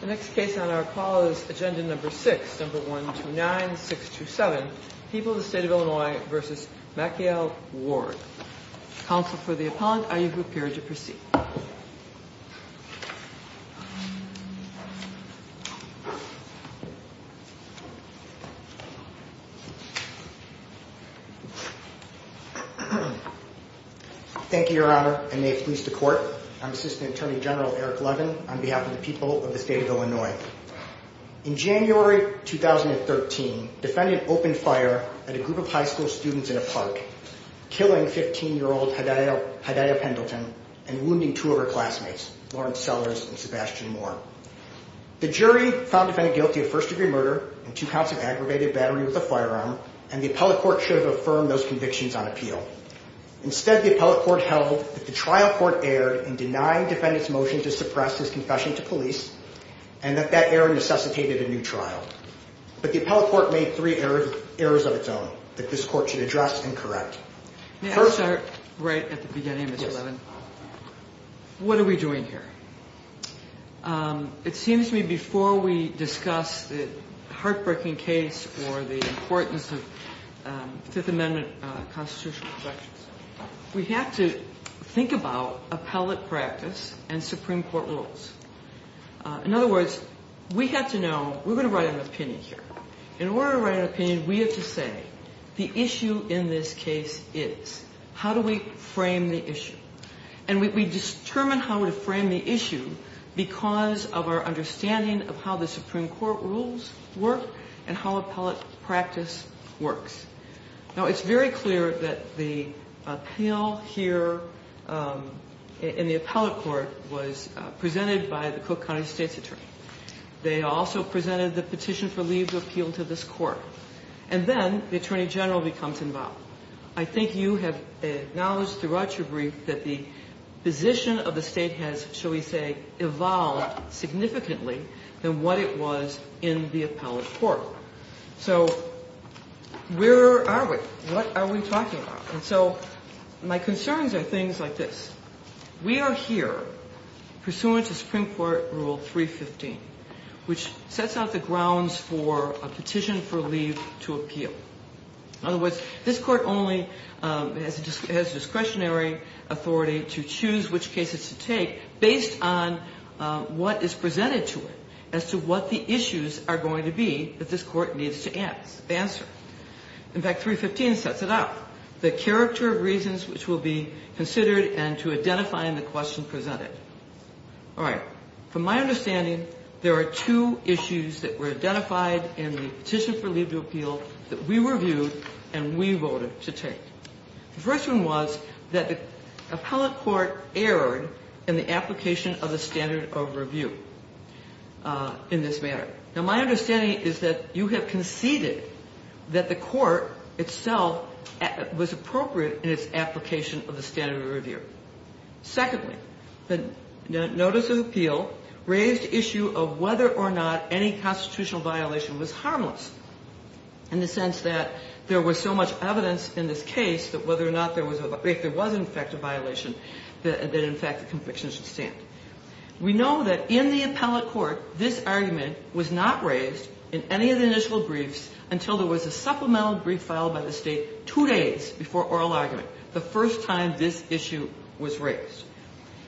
The next case on our call is agenda number six, number 129627. People of the State of Illinois v. Maciel Ward. Counsel for the appellant, are you prepared to proceed? Thank you, Your Honor. I may please the court. I'm Assistant Attorney General Eric Levin on behalf of the people of the State of Illinois. In January 2013, defendant opened fire at a group of high school students in a park, killing 15-year-old Hedaya Pendleton and wounding two of her classmates, Lawrence Sellers and Sebastian Moore. The jury found defendant guilty of first-degree murder and two counts of aggravated battery with a firearm, and the appellate court should have affirmed those convictions on appeal. Instead, the appellate court held that the trial court erred in denying defendant's motion to suppress his confession to police, and that that error necessitated a new trial. But the appellate court made three errors of its own that this court should address and correct. May I start right at the beginning, Mr. Levin? Yes. What are we doing here? It seems to me before we discuss the heartbreaking case or the importance of Fifth Amendment constitutional protections, we have to think about appellate practice and Supreme Court rules. In other words, we have to know we're going to write an opinion here. In order to write an opinion, we have to say the issue in this case is. How do we frame the issue? And we determine how to frame the issue because of our understanding of how the Supreme Court rules work and how appellate practice works. Now, it's very clear that the appeal here in the appellate court was presented by the Cook County State's attorney. They also presented the petition for leave to appeal to this court. And then the attorney general becomes involved. I think you have acknowledged throughout your brief that the position of the State has, shall we say, evolved significantly than what it was in the appellate court. So where are we? What are we talking about? And so my concerns are things like this. We are here pursuant to Supreme Court Rule 315, which sets out the grounds for a petition for leave to appeal. In other words, this court only has discretionary authority to choose which cases to take based on what is presented to it as to what the issues are going to be that this court needs to answer. In fact, 315 sets it out, the character of reasons which will be considered and to identify in the question presented. All right. From my understanding, there are two issues that were identified in the petition for leave to appeal that we reviewed and we voted to take. The first one was that the appellate court erred in the application of the standard of review in this matter. Now, my understanding is that you have conceded that the court itself was appropriate in its application of the standard of review. Secondly, the notice of appeal raised issue of whether or not any constitutional violation was harmless, in the sense that there was so much evidence in this case that whether or not there was or if there was in fact a violation, that in fact the conviction should stand. We know that in the appellate court, this argument was not raised in any of the initial briefs until there was a supplemental brief filed by the State two days before oral argument, the first time this issue was raised.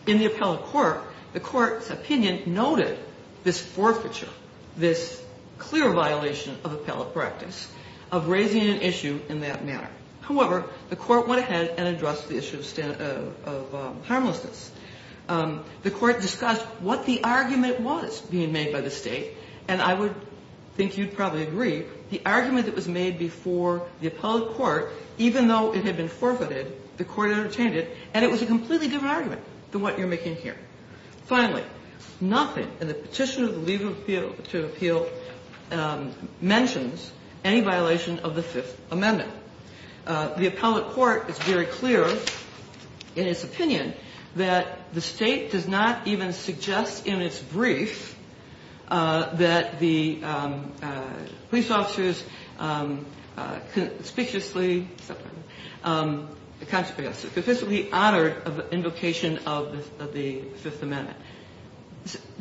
In the appellate court, the court's opinion noted this forfeiture, this clear violation of appellate practice of raising an issue in that manner. However, the court went ahead and addressed the issue of harmlessness. The court discussed what the argument was being made by the State, and I would think you'd probably agree, the argument that was made before the appellate court, even though it had been forfeited, the court entertained it, and it was a completely different argument than what you're making here. Finally, nothing in the petition of the legal appeal mentions any violation of the Fifth Amendment. The appellate court is very clear in its opinion that the State does not even suggest in its brief that the police officers conspicuously honored the invocation of the Fifth Amendment.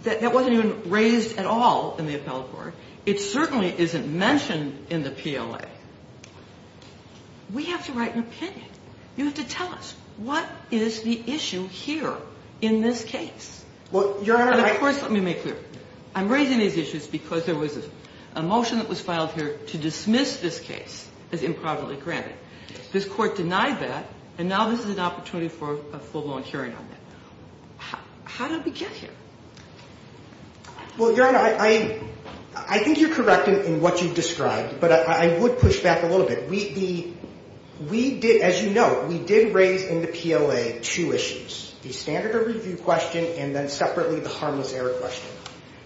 That wasn't even raised at all in the appellate court. It certainly isn't mentioned in the PLA. We have to write an opinion. You have to tell us what is the issue here in this case. Of course, let me make clear. I'm raising these issues because there was a motion that was filed here to dismiss this case as improperly granted. This court denied that, and now this is an opportunity for a full-blown hearing on that. How did we get here? Well, Your Honor, I think you're correct in what you've described, but I would push back a little bit. We did, as you know, we did raise in the PLA two issues, the standard of review question and then separately the harmless error question.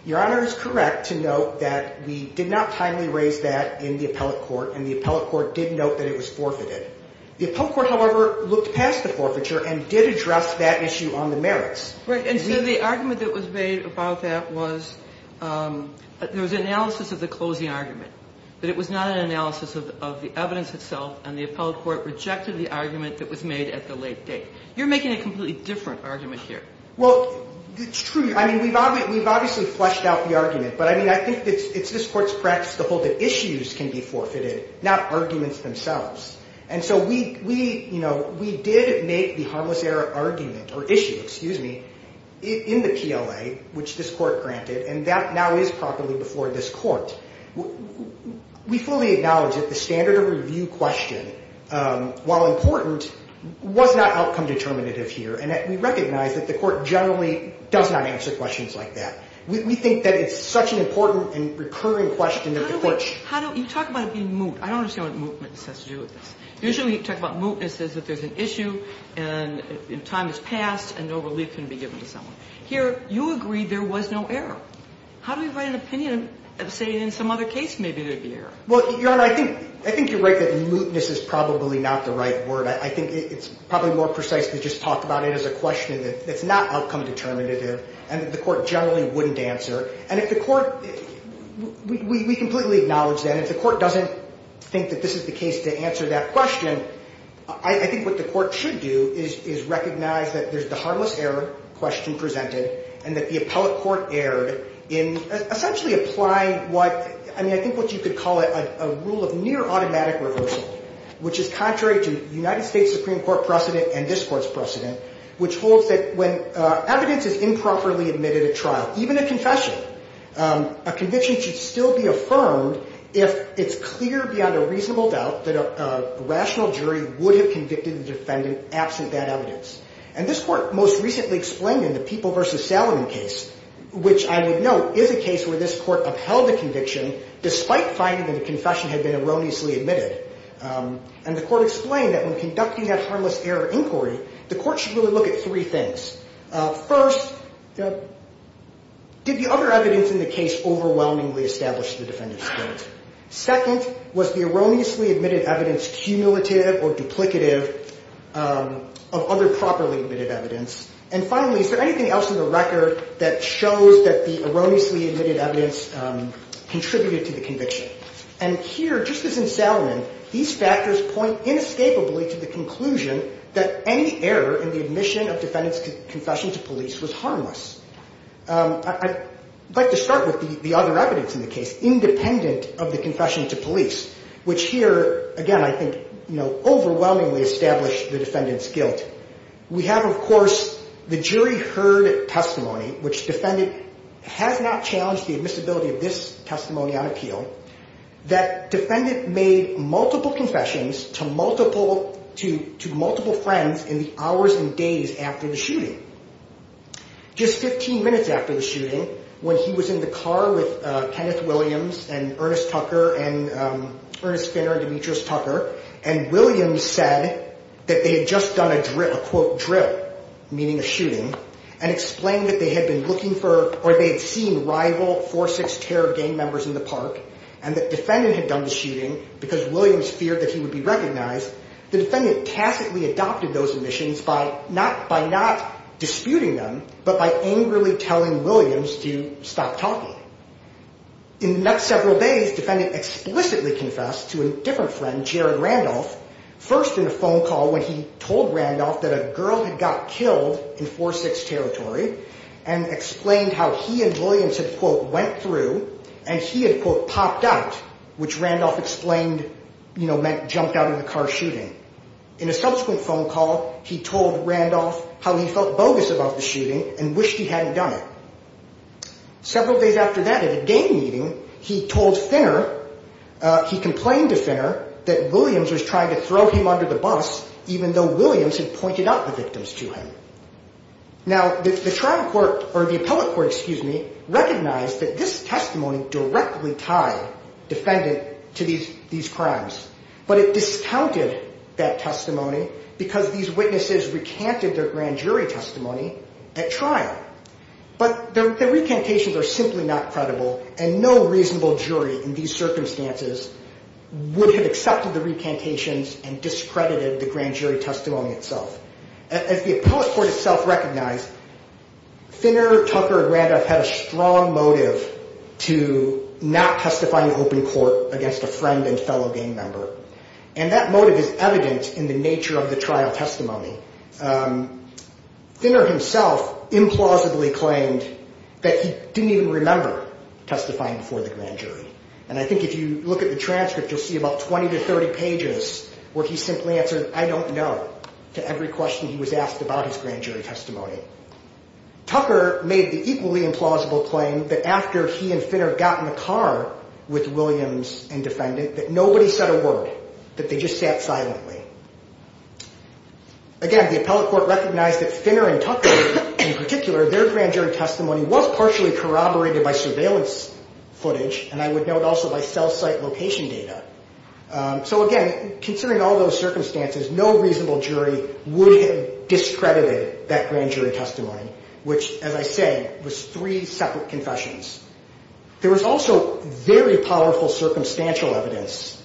Your Honor is correct to note that we did not timely raise that in the appellate court, and the appellate court did note that it was forfeited. The appellate court, however, looked past the forfeiture and did address that issue on the merits. Right. And so the argument that was made about that was there was analysis of the closing argument, but it was not an analysis of the evidence itself, and the appellate court rejected the argument that was made at the late date. You're making a completely different argument here. Well, it's true. I mean, we've obviously fleshed out the argument, but I mean, I think it's this Court's practice to hold that issues can be forfeited, not arguments themselves. And so we, you know, we did make the harmless error argument or issue, excuse me, in the PLA, which this Court granted, and that now is properly before this Court. We fully acknowledge that the standard of review question, while important, was not outcome determinative here, and that we recognize that the Court generally does not answer questions like that. We think that it's such an important and recurring question that the Court should. How do we? You talk about it being moot. I don't understand what mootness has to do with this. Usually we talk about mootness as if there's an issue, and time has passed, and no relief can be given to someone. Here, you agree there was no error. How do we write an opinion saying in some other case maybe there'd be error? Well, Your Honor, I think you're right that mootness is probably not the right word. I think it's probably more precise to just talk about it as a question that's not outcome determinative and that the Court generally wouldn't answer. And if the Court, we completely acknowledge that. If the Court doesn't think that this is the case to answer that question, I think what the Court should do is recognize that there's the harmless error question presented and that the appellate court erred in essentially applying what, I mean, I think what you could call it a rule of near automatic reversal, which is contrary to United States Supreme Court precedent and this Court's precedent, which holds that when evidence is improperly admitted at trial, even a confession, a conviction should still be affirmed if it's clear beyond a reasonable doubt that a rational jury would have convicted the defendant absent that evidence. And this Court most recently explained in the People v. Salomon case, which I would note is a case where this Court upheld the conviction despite finding that the confession had been erroneously admitted. And the Court explained that when conducting that harmless error inquiry, the Court should really look at three things. First, did the other evidence in the case overwhelmingly establish the defendant's guilt? Second, was the erroneously admitted evidence cumulative or duplicative of other properly admitted evidence? And finally, is there anything else in the record that shows that the erroneously admitted evidence contributed to the conviction? And here, just as in Salomon, these factors point inescapably to the conclusion that any error in the admission of defendant's confession to police was harmless. I'd like to start with the other evidence in the case, independent of the confession to police, which here, again, I think, you know, overwhelmingly established the defendant's guilt. We have, of course, the jury heard testimony, which defendant has not challenged the admissibility of this testimony on appeal, that defendant made multiple confessions to multiple friends in the hours and days after the shooting. Just 15 minutes after the shooting, when he was in the car with Kenneth Williams and Ernest Tucker and Ernest Finner and Demetrius Tucker, and Williams said that they had just done a, quote, drill, meaning a shooting, and explained that they had been looking for, or they had seen rival 4-6 terror gang members in the park, and that defendant had done the shooting because Williams feared that he would be recognized, the defendant tacitly adopted those admissions by not, by not disputing them, but by angrily telling Williams to stop talking. In the next several days, defendant explicitly confessed to a different friend, Jared Randolph, first in a phone call when he told Randolph that a girl had got killed in 4-6 territory, and explained how he and Williams had, quote, went through, and he had, quote, popped out, which Randolph explained, you know, meant jumped out of the car shooting. In a subsequent phone call, he told Randolph how he felt bogus about the shooting and wished he hadn't done it. Several days after that, at a game meeting, he told Finner, he complained to Finner that Williams was trying to throw him under the bus, even though Williams had pointed out the victims to him. Now, the trial court, or the appellate court, excuse me, recognized that this testimony directly tied defendant to these crimes, but it discounted that testimony because these witnesses recanted their grand jury testimony at trial. But the recantations are simply not credible, and no reasonable jury in these circumstances would have accepted the recantations and discredited the grand jury itself. As the appellate court itself recognized, Finner, Tucker, and Randolph had a strong motive to not testify in open court against a friend and fellow game member, and that motive is evident in the nature of the trial testimony. Finner himself implausibly claimed that he didn't even remember testifying before the grand jury, and I think if you look at the transcript, you'll see about 20 to 30 pages where he simply answered, I don't know, to every question he was asked about his grand jury testimony. Tucker made the equally implausible claim that after he and Finner got in the car with Williams and defendant, that nobody said a word, that they just sat silently. Again, the appellate court recognized that Finner and Tucker, in particular, their grand jury testimony was partially corroborated by surveillance footage, and I would note also by cell site location data. So again, considering all those circumstances, no reasonable jury would have discredited that grand jury testimony, which, as I say, was three separate confessions. There was also very powerful circumstantial evidence,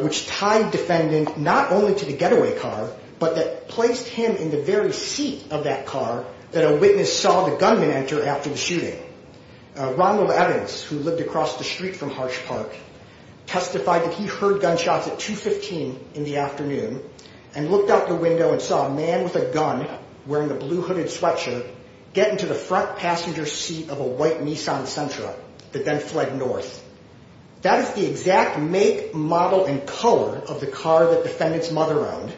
which tied defendant not only to the getaway car, but that placed him in the very seat of that car that a witness saw the gunman enter after the shooting. Ronald Evans, who lived across the street from Harsh Park, testified that he heard gunshots at 215 in the afternoon and looked out the window and saw a man with a gun wearing a blue hooded sweatshirt get into the front passenger seat of a white Nissan Sentra that then fled north. That is the exact make, model, and color of the car that defendant's mother owned.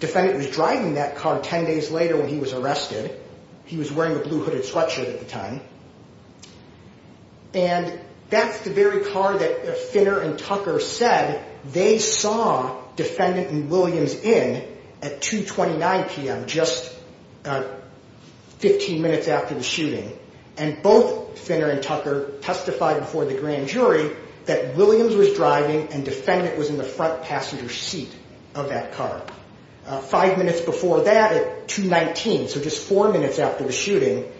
Defendant was driving that car 10 days later when he was arrested. He was wearing a blue hooded sweatshirt at the time. And that's the very car that Finner and Tucker said they saw defendant and Williams in at 229 p.m., just 15 minutes after the shooting. And both Finner and Tucker testified before the grand jury that Williams was driving and defendant was in the front passenger seat of that car. Five minutes before that at 219, so just four minutes after the shooting,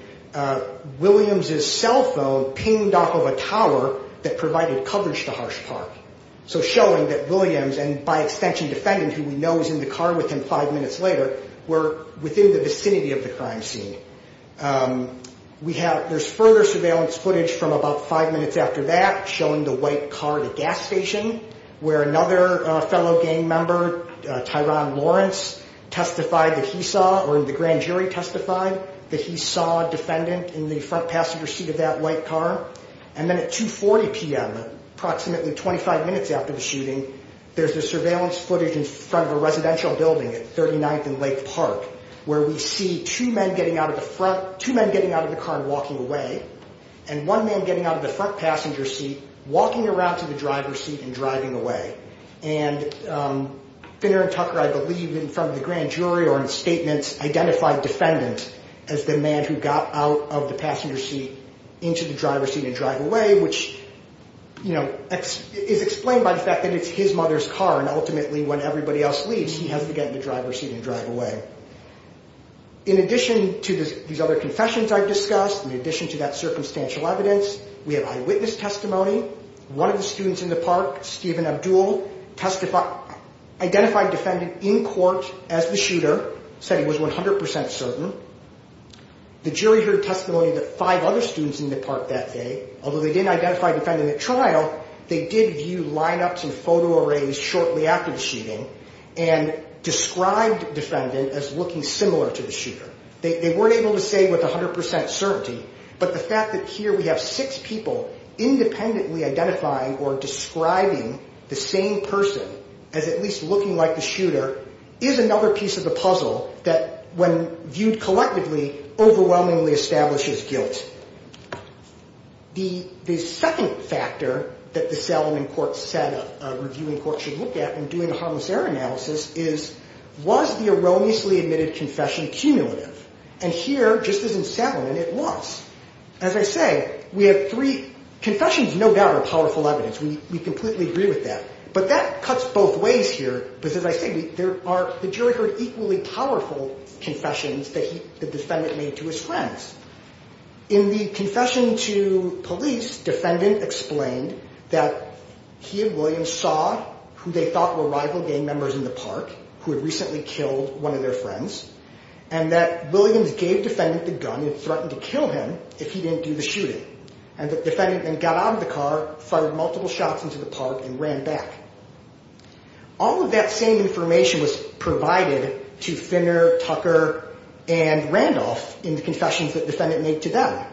Williams' cell phone pinged off of a tower that provided coverage to Harsh Park, so showing that Williams, and by extension defendant who we know is in the car with him five minutes later, were within the vicinity of the crime scene. There's further surveillance footage from about five minutes after that testified that he saw, or the grand jury testified, that he saw defendant in the front passenger seat of that white car. And then at 240 p.m., approximately 25 minutes after the shooting, there's the surveillance footage in front of a residential building at 39th and Lake Park, where we see two men getting out of the car and walking away, and one man getting out of the front passenger seat, walking around to the driver's seat and driving away. And Finner and Tucker, I believe, in front of the grand jury, or in statements, identified defendant as the man who got out of the passenger seat into the driver's seat and drive away, which, you know, is explained by the fact that it's his mother's car, and ultimately when everybody else leaves, he has to get in the driver's seat and drive away. In addition to these other confessions I've discussed, in addition to that circumstantial evidence, we have eyewitness testimony. One of the students in the park, Stephen Abdul, identified defendant in court as the shooter, said he was 100% certain. The jury heard testimony of the five other students in the park that day. Although they didn't identify defendant at trial, they did view lineups and photo arrays shortly after the shooting and described defendant as looking similar to the shooter. They weren't able to say with 100% certainty, but the fact that here we have six people independently identifying or describing the same person as at least looking like the shooter is another piece of the puzzle that, when viewed collectively, overwhelmingly establishes guilt. The second factor that the settlement court said a reviewing court should look at when doing a harmless error analysis is, was the erroneously admitted confession cumulative? And here, just as in settlement, it was. As I say, we have three confessions, no doubt, are powerful evidence. We completely agree with that. But that cuts both ways here because, as I say, the jury heard equally powerful confessions that the defendant made to his friends. In the confession to police, defendant explained that he and Williams saw who they thought were rival gang members in the park, who had recently killed one of their friends, and that Williams gave defendant the gun and threatened to kill him if he didn't do the shooting. And the defendant then got out of the car, fired multiple shots into the park, and ran back. All of that same information was provided to Finner, Tucker, and Randolph in the confessions that defendant made to them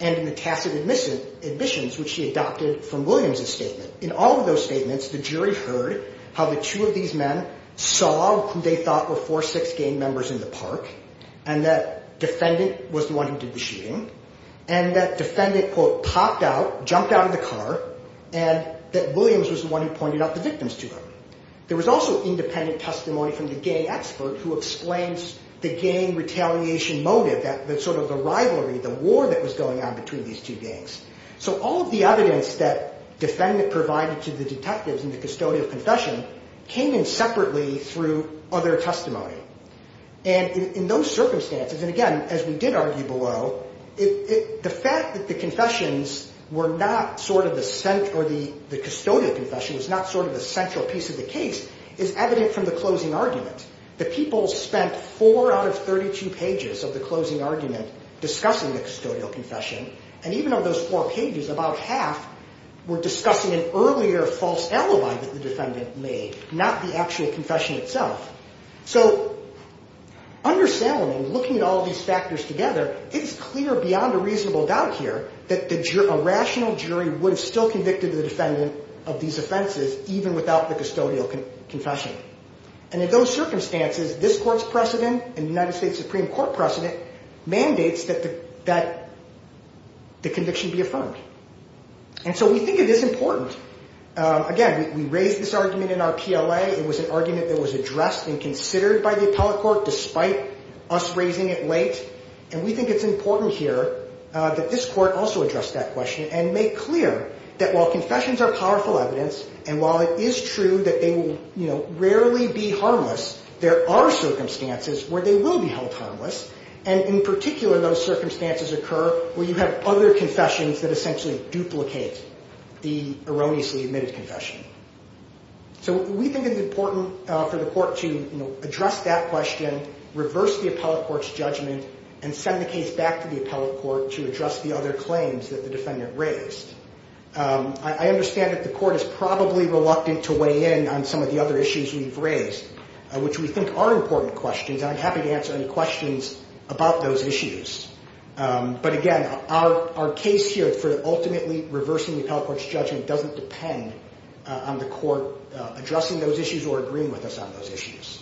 and in the tacit admissions, which she adopted from Williams' statement. In all of those statements, the jury heard how the two of these men saw who they thought were four sixth gang members in the park and that defendant was the one who did the shooting and that defendant, quote, popped out, jumped out of the car, and that Williams was the one who pointed out the victims to them. There was also independent testimony from the gang expert who explains the gang retaliation motive, sort of the rivalry, the war that was going on between these two gangs. So all of the evidence that defendant provided to the detectives in the custodial confession came in separately through other testimony. And in those circumstances, and again, as we did argue below, the fact that the confessions were not sort of the central or the custodial confession was not sort of the central piece of the case is evident from the closing argument. The people spent four out of 32 pages of the closing argument discussing the custodial confession, and even on those four pages, about half were discussing an earlier false alibi that the defendant made, not the actual confession itself. So understanding, looking at all these factors together, it's clear beyond a reasonable doubt here that a rational jury would have still convicted the defendant of these offenses even without the custodial confession. And in those circumstances, this Court's precedent and the United States Supreme Court precedent mandates that the conviction be affirmed. And so we think it is important, again, we raised this argument in our PLA. It was an argument that was addressed and considered by the appellate court despite us raising it late. And we think it's important here that this Court also address that question and make clear that while confessions are powerful evidence and while it is true that they will rarely be harmless, there are circumstances where they will be held harmless, and in particular, those circumstances occur where you have other confessions that essentially duplicate the erroneously admitted confession. So we think it's important for the Court to address that question, reverse the appellate court's judgment, and send the case back to the appellate court to address the other claims that the defendant raised. I understand that the Court is probably reluctant to weigh in on some of the other issues we've raised, which we think are important questions, and I'm happy to answer any questions about those issues. But again, our case here for ultimately reversing the appellate court's judgment would depend on the Court addressing those issues or agreeing with us on those issues.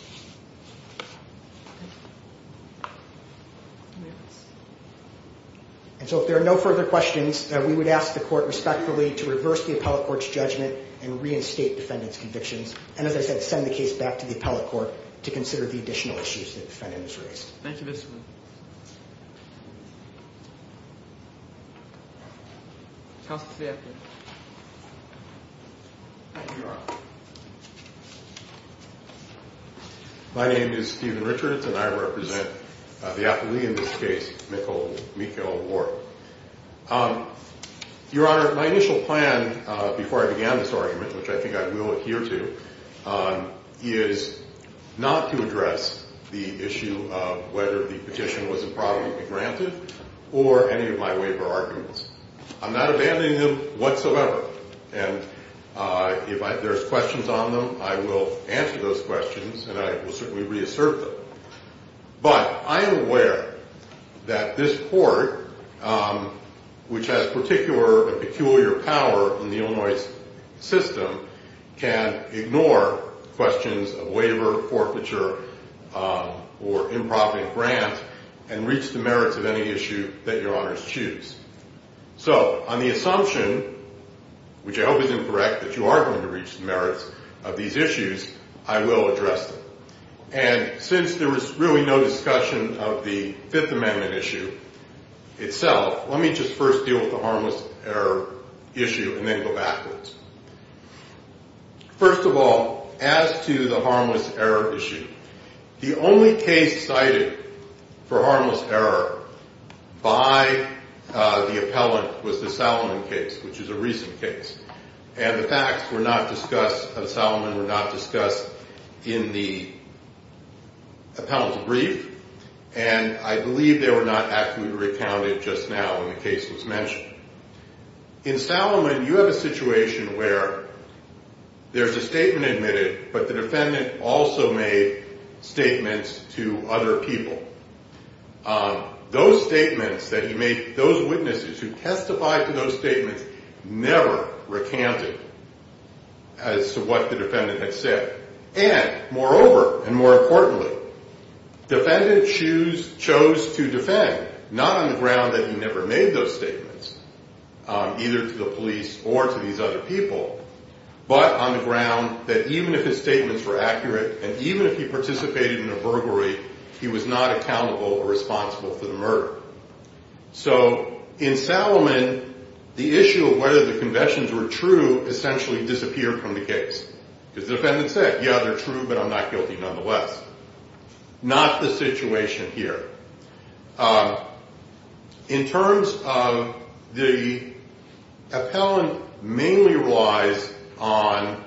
And so if there are no further questions, we would ask the Court respectfully to reverse the appellate court's judgment and reinstate defendant's convictions, and as I said, send the case back to the appellate court to consider the additional issues that the defendant has raised. Thank you, Mr. Lewin. Counsel to the appellant. Thank you, Your Honor. My name is Stephen Richards, and I represent the appellee in this case, Nicole Meikle-Warp. Your Honor, my initial plan before I began this argument, which I think I will adhere to, is not to address the issue of whether the petitioner has granted or any of my waiver arguments. I'm not abandoning them whatsoever, and if there's questions on them, I will answer those questions, and I will certainly reassert them. But I am aware that this Court, which has particular and peculiar power in the Illinois system, can ignore questions of waiver, forfeiture, or non-profit grant, and reach the merits of any issue that Your Honors choose. So, on the assumption, which I hope is incorrect, that you are going to reach the merits of these issues, I will address them. And since there was really no discussion of the Fifth Amendment issue itself, let me just first deal with the harmless error issue, and then go backwards. First of all, as to the harmless error issue, the only case cited for harmless error by the appellant was the Salomon case, which is a recent case. And the facts were not discussed at Salomon, were not discussed in the appellant's brief, and I believe they were not accurately recounted just now when the case was mentioned. In Salomon, you have a situation where there's a statement admitted, but the defendant also made statements to other people. Those statements that he made, those witnesses who testified to those statements, never recanted as to what the defendant had said. And, moreover, and more importantly, the defendant chose to defend, not on the ground that he never made those statements, either to the police or to these other people, but on the ground that even if his statements were accurate, and even if he participated in a burglary, he was not accountable or responsible for the murder. So, in Salomon, the issue of whether the conventions were true essentially disappeared from the case. Because the defendant said, yeah, they're true, but I'm not guilty nonetheless. Not the situation here. In terms of the appellant mainly relies on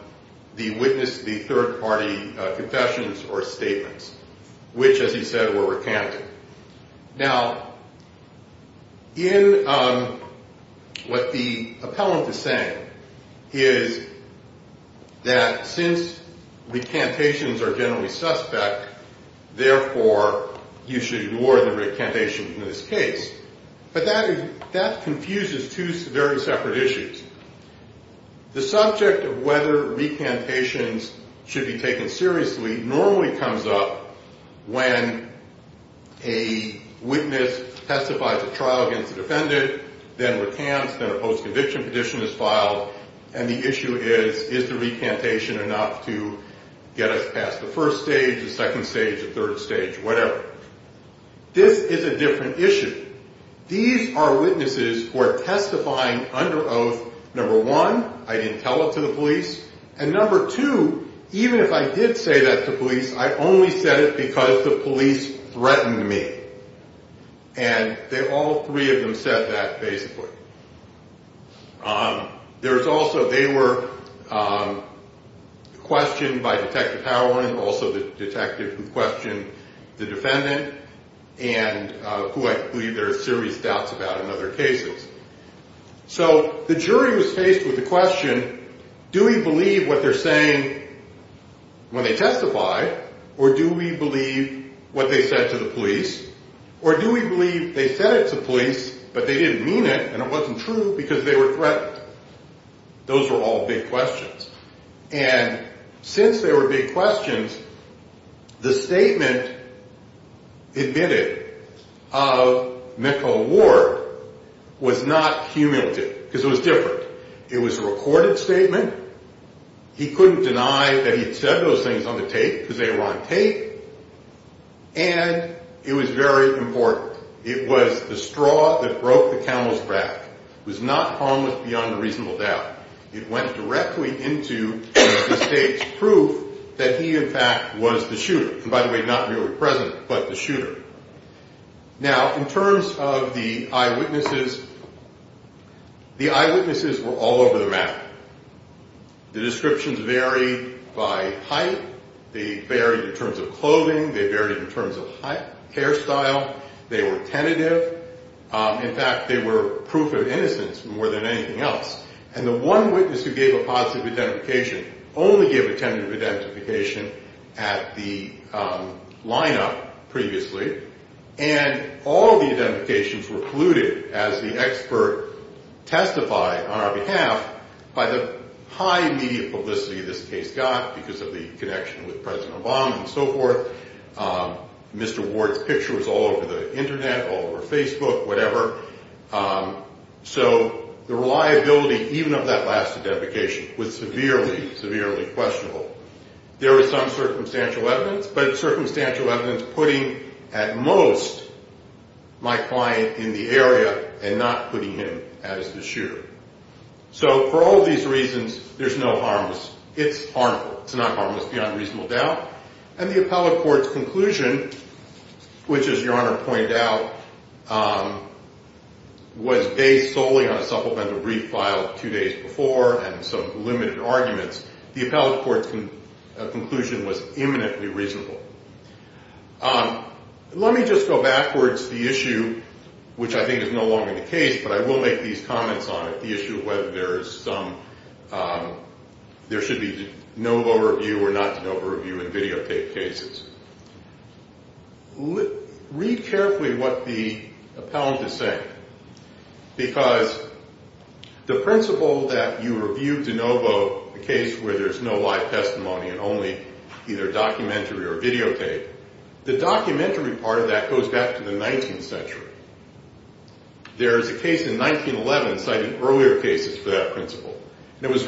the witness, the third-party confessions or statements, which, as he said, were recanted. Now, in what the appellant is saying is that since recantations are generally suspect, therefore, you should ignore the recantation in this case. But that confuses two very separate issues. The subject of whether recantations should be taken seriously normally comes up when a witness testifies at trial against the defendant, then recants, then a post-conviction petition is filed, and the issue is, is the first stage, the second stage, the third stage, whatever. This is a different issue. These are witnesses who are testifying under oath, number one, I didn't tell it to the police, and number two, even if I did say that to police, I only said it because the police threatened me. And all three of them said that, basically. There's also, they were questioned by Detective Howland, also the detective who questioned the defendant, and who I believe there are serious doubts about in other cases. So the jury was faced with the question, do we believe what they're saying when they testify, or do we believe what they said to the police, or do we believe it, and it wasn't true because they were threatened. Those were all big questions. And since they were big questions, the statement admitted of Mickel Ward was not cumulative, because it was different. It was a recorded statement. He couldn't deny that he'd said those things on the tape, because they were on tape, and it was very important. It was the straw that broke the camel's back. It was not harmless beyond a reasonable doubt. It went directly into the state's proof that he, in fact, was the shooter. And by the way, not merely present, but the shooter. Now, in terms of the eyewitnesses, the eyewitnesses were all over the map. The descriptions varied by height. They varied in terms of clothing. They varied in terms of hairstyle. They were tentative. In fact, they were proof of innocence more than anything else. And the one witness who gave a positive identification only gave a tentative identification at the lineup previously, and all the identifications were colluded, as the expert testified on our behalf, by the high media publicity this case got because of the connection with President Obama and so forth. Mr. Ward's picture was all over the Internet, all over Facebook, whatever. So the reliability, even of that last identification, was severely, severely questionable. There was some circumstantial evidence, but circumstantial evidence putting at most my client in the area and not putting him as the shooter. So for all of these reasons, there's no harmless. It's harmful. It's not harmless beyond reasonable doubt. And the appellate court's conclusion, which, as Your Honor pointed out, was based solely on a supplemental brief filed two days before and some limited arguments, the appellate court's conclusion was imminently reasonable. Let me just go backwards the issue, which I think is no longer the case, but I will make these comments on it, the issue of whether there should be no review and videotape cases. Read carefully what the appellant is saying, because the principle that you review de novo a case where there's no live testimony and only either documentary or videotape, the documentary part of that goes back to the 19th century. There is a case in 1911 citing earlier cases for that principle, and it was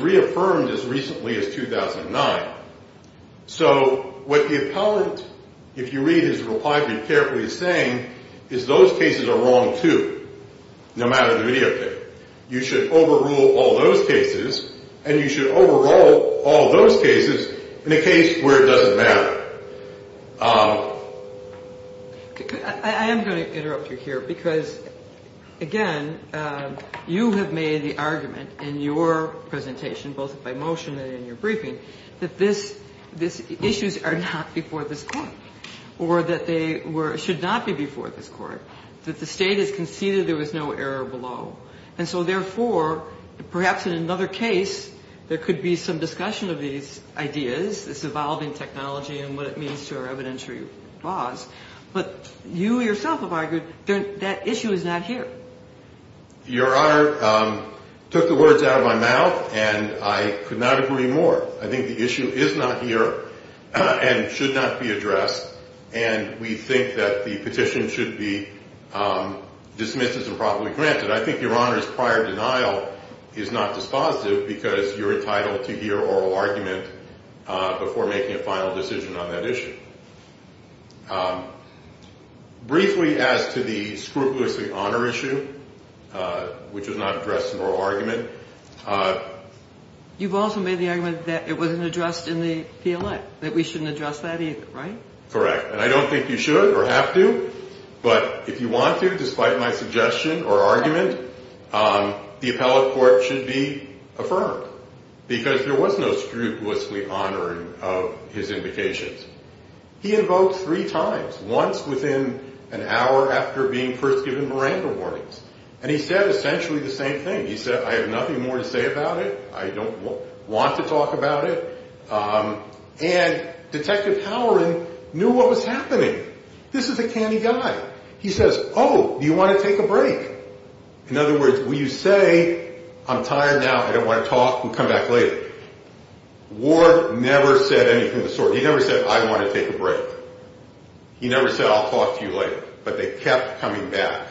So what the appellant, if you read his reply very carefully, is saying is those cases are wrong, too, no matter the videotape. You should overrule all those cases, and you should overrule all those cases in a case where it doesn't matter. I am going to interrupt you here, because, again, you have made the argument in your presentation, both by motion and in your briefing, that these issues are not before this court or that they should not be before this court, that the state has conceded there was no error below. And so, therefore, perhaps in another case there could be some discussion of these ideas, this evolving technology and what it means to our evidentiary laws, but you yourself have argued that issue is not here. Your Honor took the words out of my mouth, and I could not agree more. I think the issue is not here and should not be addressed, and we think that the petition should be dismissed as improperly granted. I think Your Honor's prior denial is not dispositive, because you're entitled to hear oral argument before making a final decision on that issue. Briefly, as to the scrupulously honor issue, which is not addressed in oral argument. You've also made the argument that it wasn't addressed in the PLA, that we shouldn't address that either, right? Correct. And I don't think you should or have to, but if you want to, despite my suggestion or argument, the appellate court should be affirmed, because there was no scrupulously honoring of his indications. He invoked three times, once within an hour after being first given Miranda warnings, and he said essentially the same thing. He said, I have nothing more to say about it. I don't want to talk about it. And Detective Howard knew what was happening. This is a canny guy. He says, oh, you want to take a break? In other words, will you say, I'm tired now. I don't want to talk. We'll come back later. Ward never said anything of the sort. He never said, I want to take a break. He never said, I'll talk to you later. But they kept coming back.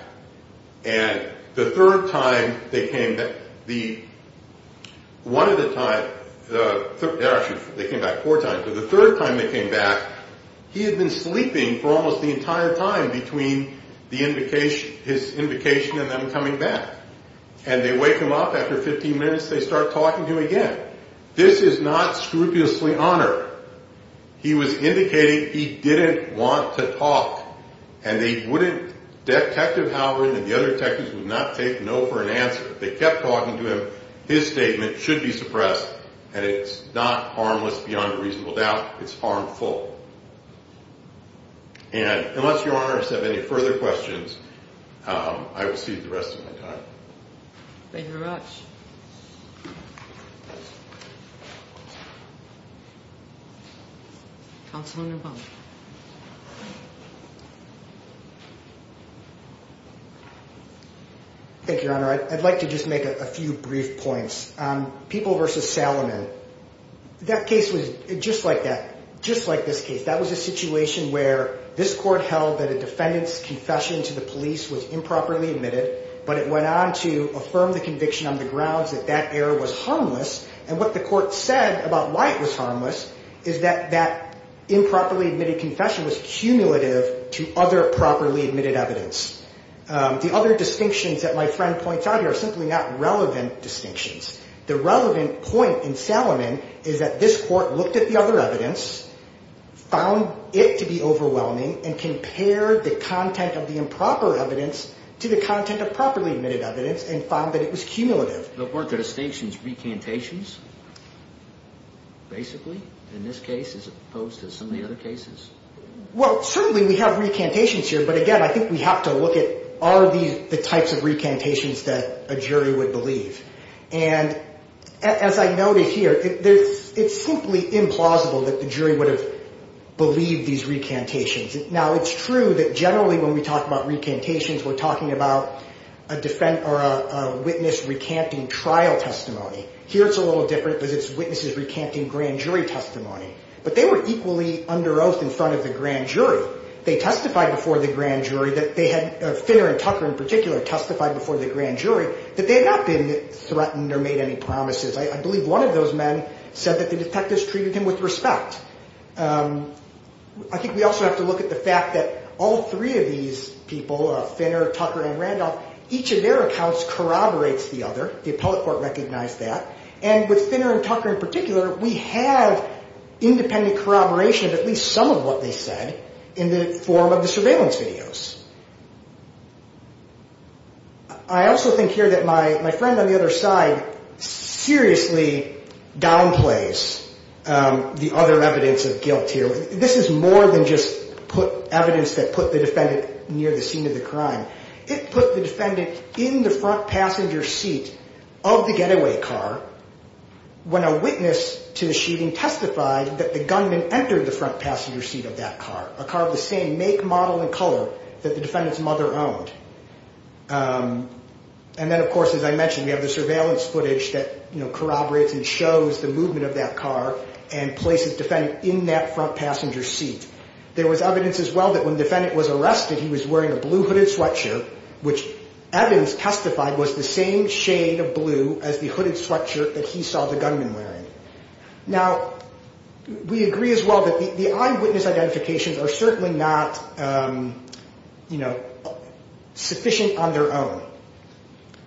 And the third time they came back, he had been sleeping for almost the entire time between his invocation and them coming back. And they wake him up. After 15 minutes, they start talking to him again. This is not scrupulously honor. He was indicating he didn't want to talk. And Detective Howard and the other detectives would not take no for an answer. They kept talking to him. His statement should be suppressed. And it's not harmless beyond a reasonable doubt. It's harmful. And unless Your Honor has any further questions, I will cede the rest of my time. Thank you very much. Counselor. Thank you, Your Honor. I'd like to just make a few brief points. People versus Salomon. That case was just like that. Just like this case. That was a situation where this court held that a defendant's confession to the police was improperly admitted, but it went on to affirm the conviction on the grounds that that error was harmless. And what the court said about why it was harmless is that that improperly admitted confession was cumulative to other properly admitted evidence. The other distinctions that my friend points out here are simply not relevant distinctions. The relevant point in Salomon is that this court looked at the other evidence, found it to be overwhelming, and compared the content of the improper evidence to the content of properly admitted evidence and found that it was cumulative. Weren't the distinctions recantations, basically, in this case as opposed to some of the other cases? Well, certainly we have recantations here, but again, I think we have to look at are these the types of recantations that a jury would believe. And as I noted here, it's simply implausible that the jury would have believed these recantations. Now, it's true that generally when we talk about recantations, we're talking about a witness recanting trial testimony. Here it's a little different because it's witnesses recanting grand jury testimony. But they were equally under oath in front of the grand jury. They testified before the grand jury that they had, Finner and Tucker in particular, testified before the grand jury that they had not been threatened or made any promises. I believe one of those men said that the detectives treated him with respect. I think we also have to look at the fact that all three of these people, Finner, Tucker, and Randolph, each of their accounts corroborates the other. The appellate court recognized that. And with Finner and Tucker in particular, we have independent corroboration of at least some of what they said in the form of the surveillance videos. I also think here that my friend on the other side seriously downplays the other evidence of guilt here. This is more than just evidence that put the defendant near the scene of the crime. It put the defendant in the front passenger seat of the getaway car when a witness to the shooting testified that the gunman entered the front passenger seat of that car, a car of the same make, model, and color that the defendant's mother owned. And then, of course, as I mentioned, we have the surveillance footage that corroborates and shows the movement of that car and places the defendant in that front passenger seat. There was evidence as well that when the defendant was arrested, he was wearing a blue hooded sweatshirt, which Evans testified was the same shade of blue as the hooded sweatshirt that he saw the gunman wearing. Now, we agree as well that the eyewitness identifications are certainly not, you know, sufficient on their own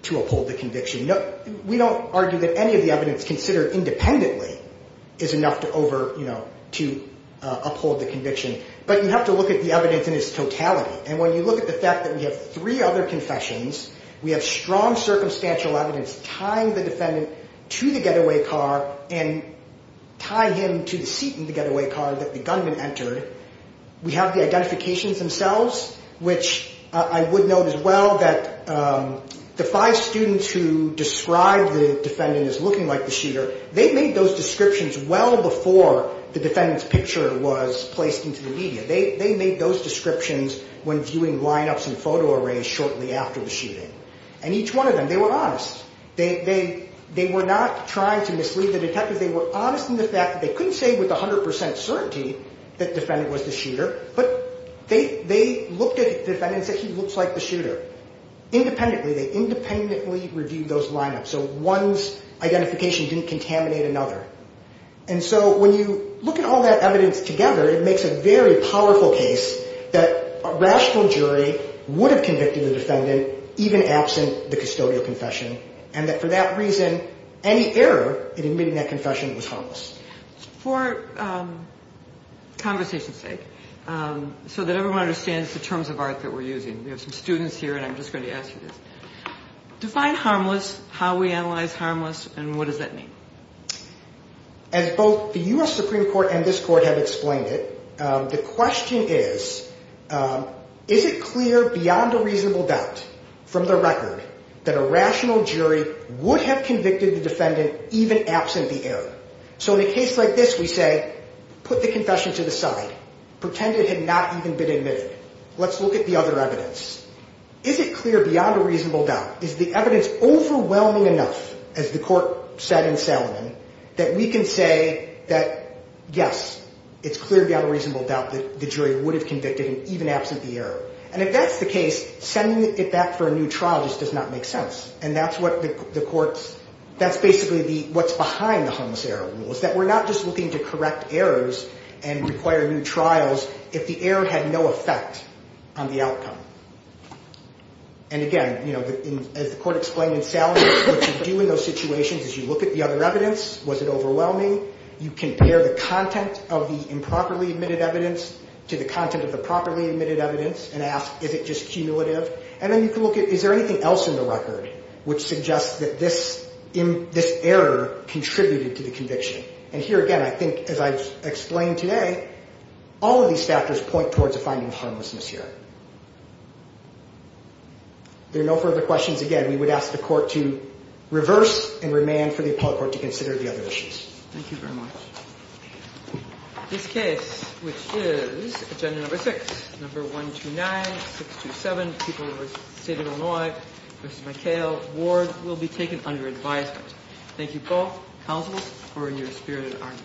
to uphold the conviction. We don't argue that any of the evidence considered independently is enough to uphold the conviction, but you have to look at the evidence in its totality. And when you look at the fact that we have three other confessions, we have strong circumstantial evidence tying the defendant to the getaway car and tying him to the seat in the getaway car that the gunman entered, we have the identifications themselves, which I would note as well that the five students who described the defendant as looking like the shooter, they made those descriptions when viewing lineups and photo arrays shortly after the shooting. And each one of them, they were honest. They were not trying to mislead the detective. They were honest in the fact that they couldn't say with 100 percent certainty that the defendant was the shooter, but they looked at the defendant and said he looks like the shooter. Independently, they independently reviewed those lineups. So one's identification didn't contaminate another. And so when you look at all that evidence together, it makes a very powerful case that a rational jury would have convicted the defendant even absent the custodial confession and that for that reason, any error in admitting that confession was harmless. For conversation's sake, so that everyone understands the terms of art that we're using, we have some students here and I'm just going to ask you this. Define harmless, how we analyze harmless, and what does that mean? As both the U.S. Supreme Court and this court have explained it, the question is, is it clear beyond a reasonable doubt from the record that a rational jury would have convicted the defendant even absent the error? So in a case like this, we say put the confession to the side. Pretend it had not even been admitted. Let's look at the other evidence. Is it clear beyond a reasonable doubt? Is the evidence overwhelming enough, as the court said in Salomon, that we can say that, yes, it's clear beyond a reasonable doubt that the jury would have convicted him even absent the error? And if that's the case, sending it back for a new trial just does not make sense. And that's what the court's, that's basically what's behind the harmless error rule, is that we're not just looking to correct errors and require new trials if the error had no effect on the outcome. And again, you know, as the court explained in Salomon, what you do in those situations is you look at the other evidence. Was it overwhelming? You compare the content of the improperly admitted evidence to the content of the properly admitted evidence and ask, is it just cumulative? And then you can look at, is there anything else in the record which suggests that this error contributed to the conviction? And here again, I think, as I've explained today, all of these factors point towards a finding of harmlessness here. There are no further questions. Again, we would ask the court to reverse and remand for the appellate court to consider the other issues. Thank you very much. This case, which is agenda number six, number 129, 627, people of the state of Illinois, Mr. McHale, Ward, will be taken under advisement. Thank you both, counsel, for your spirited argument.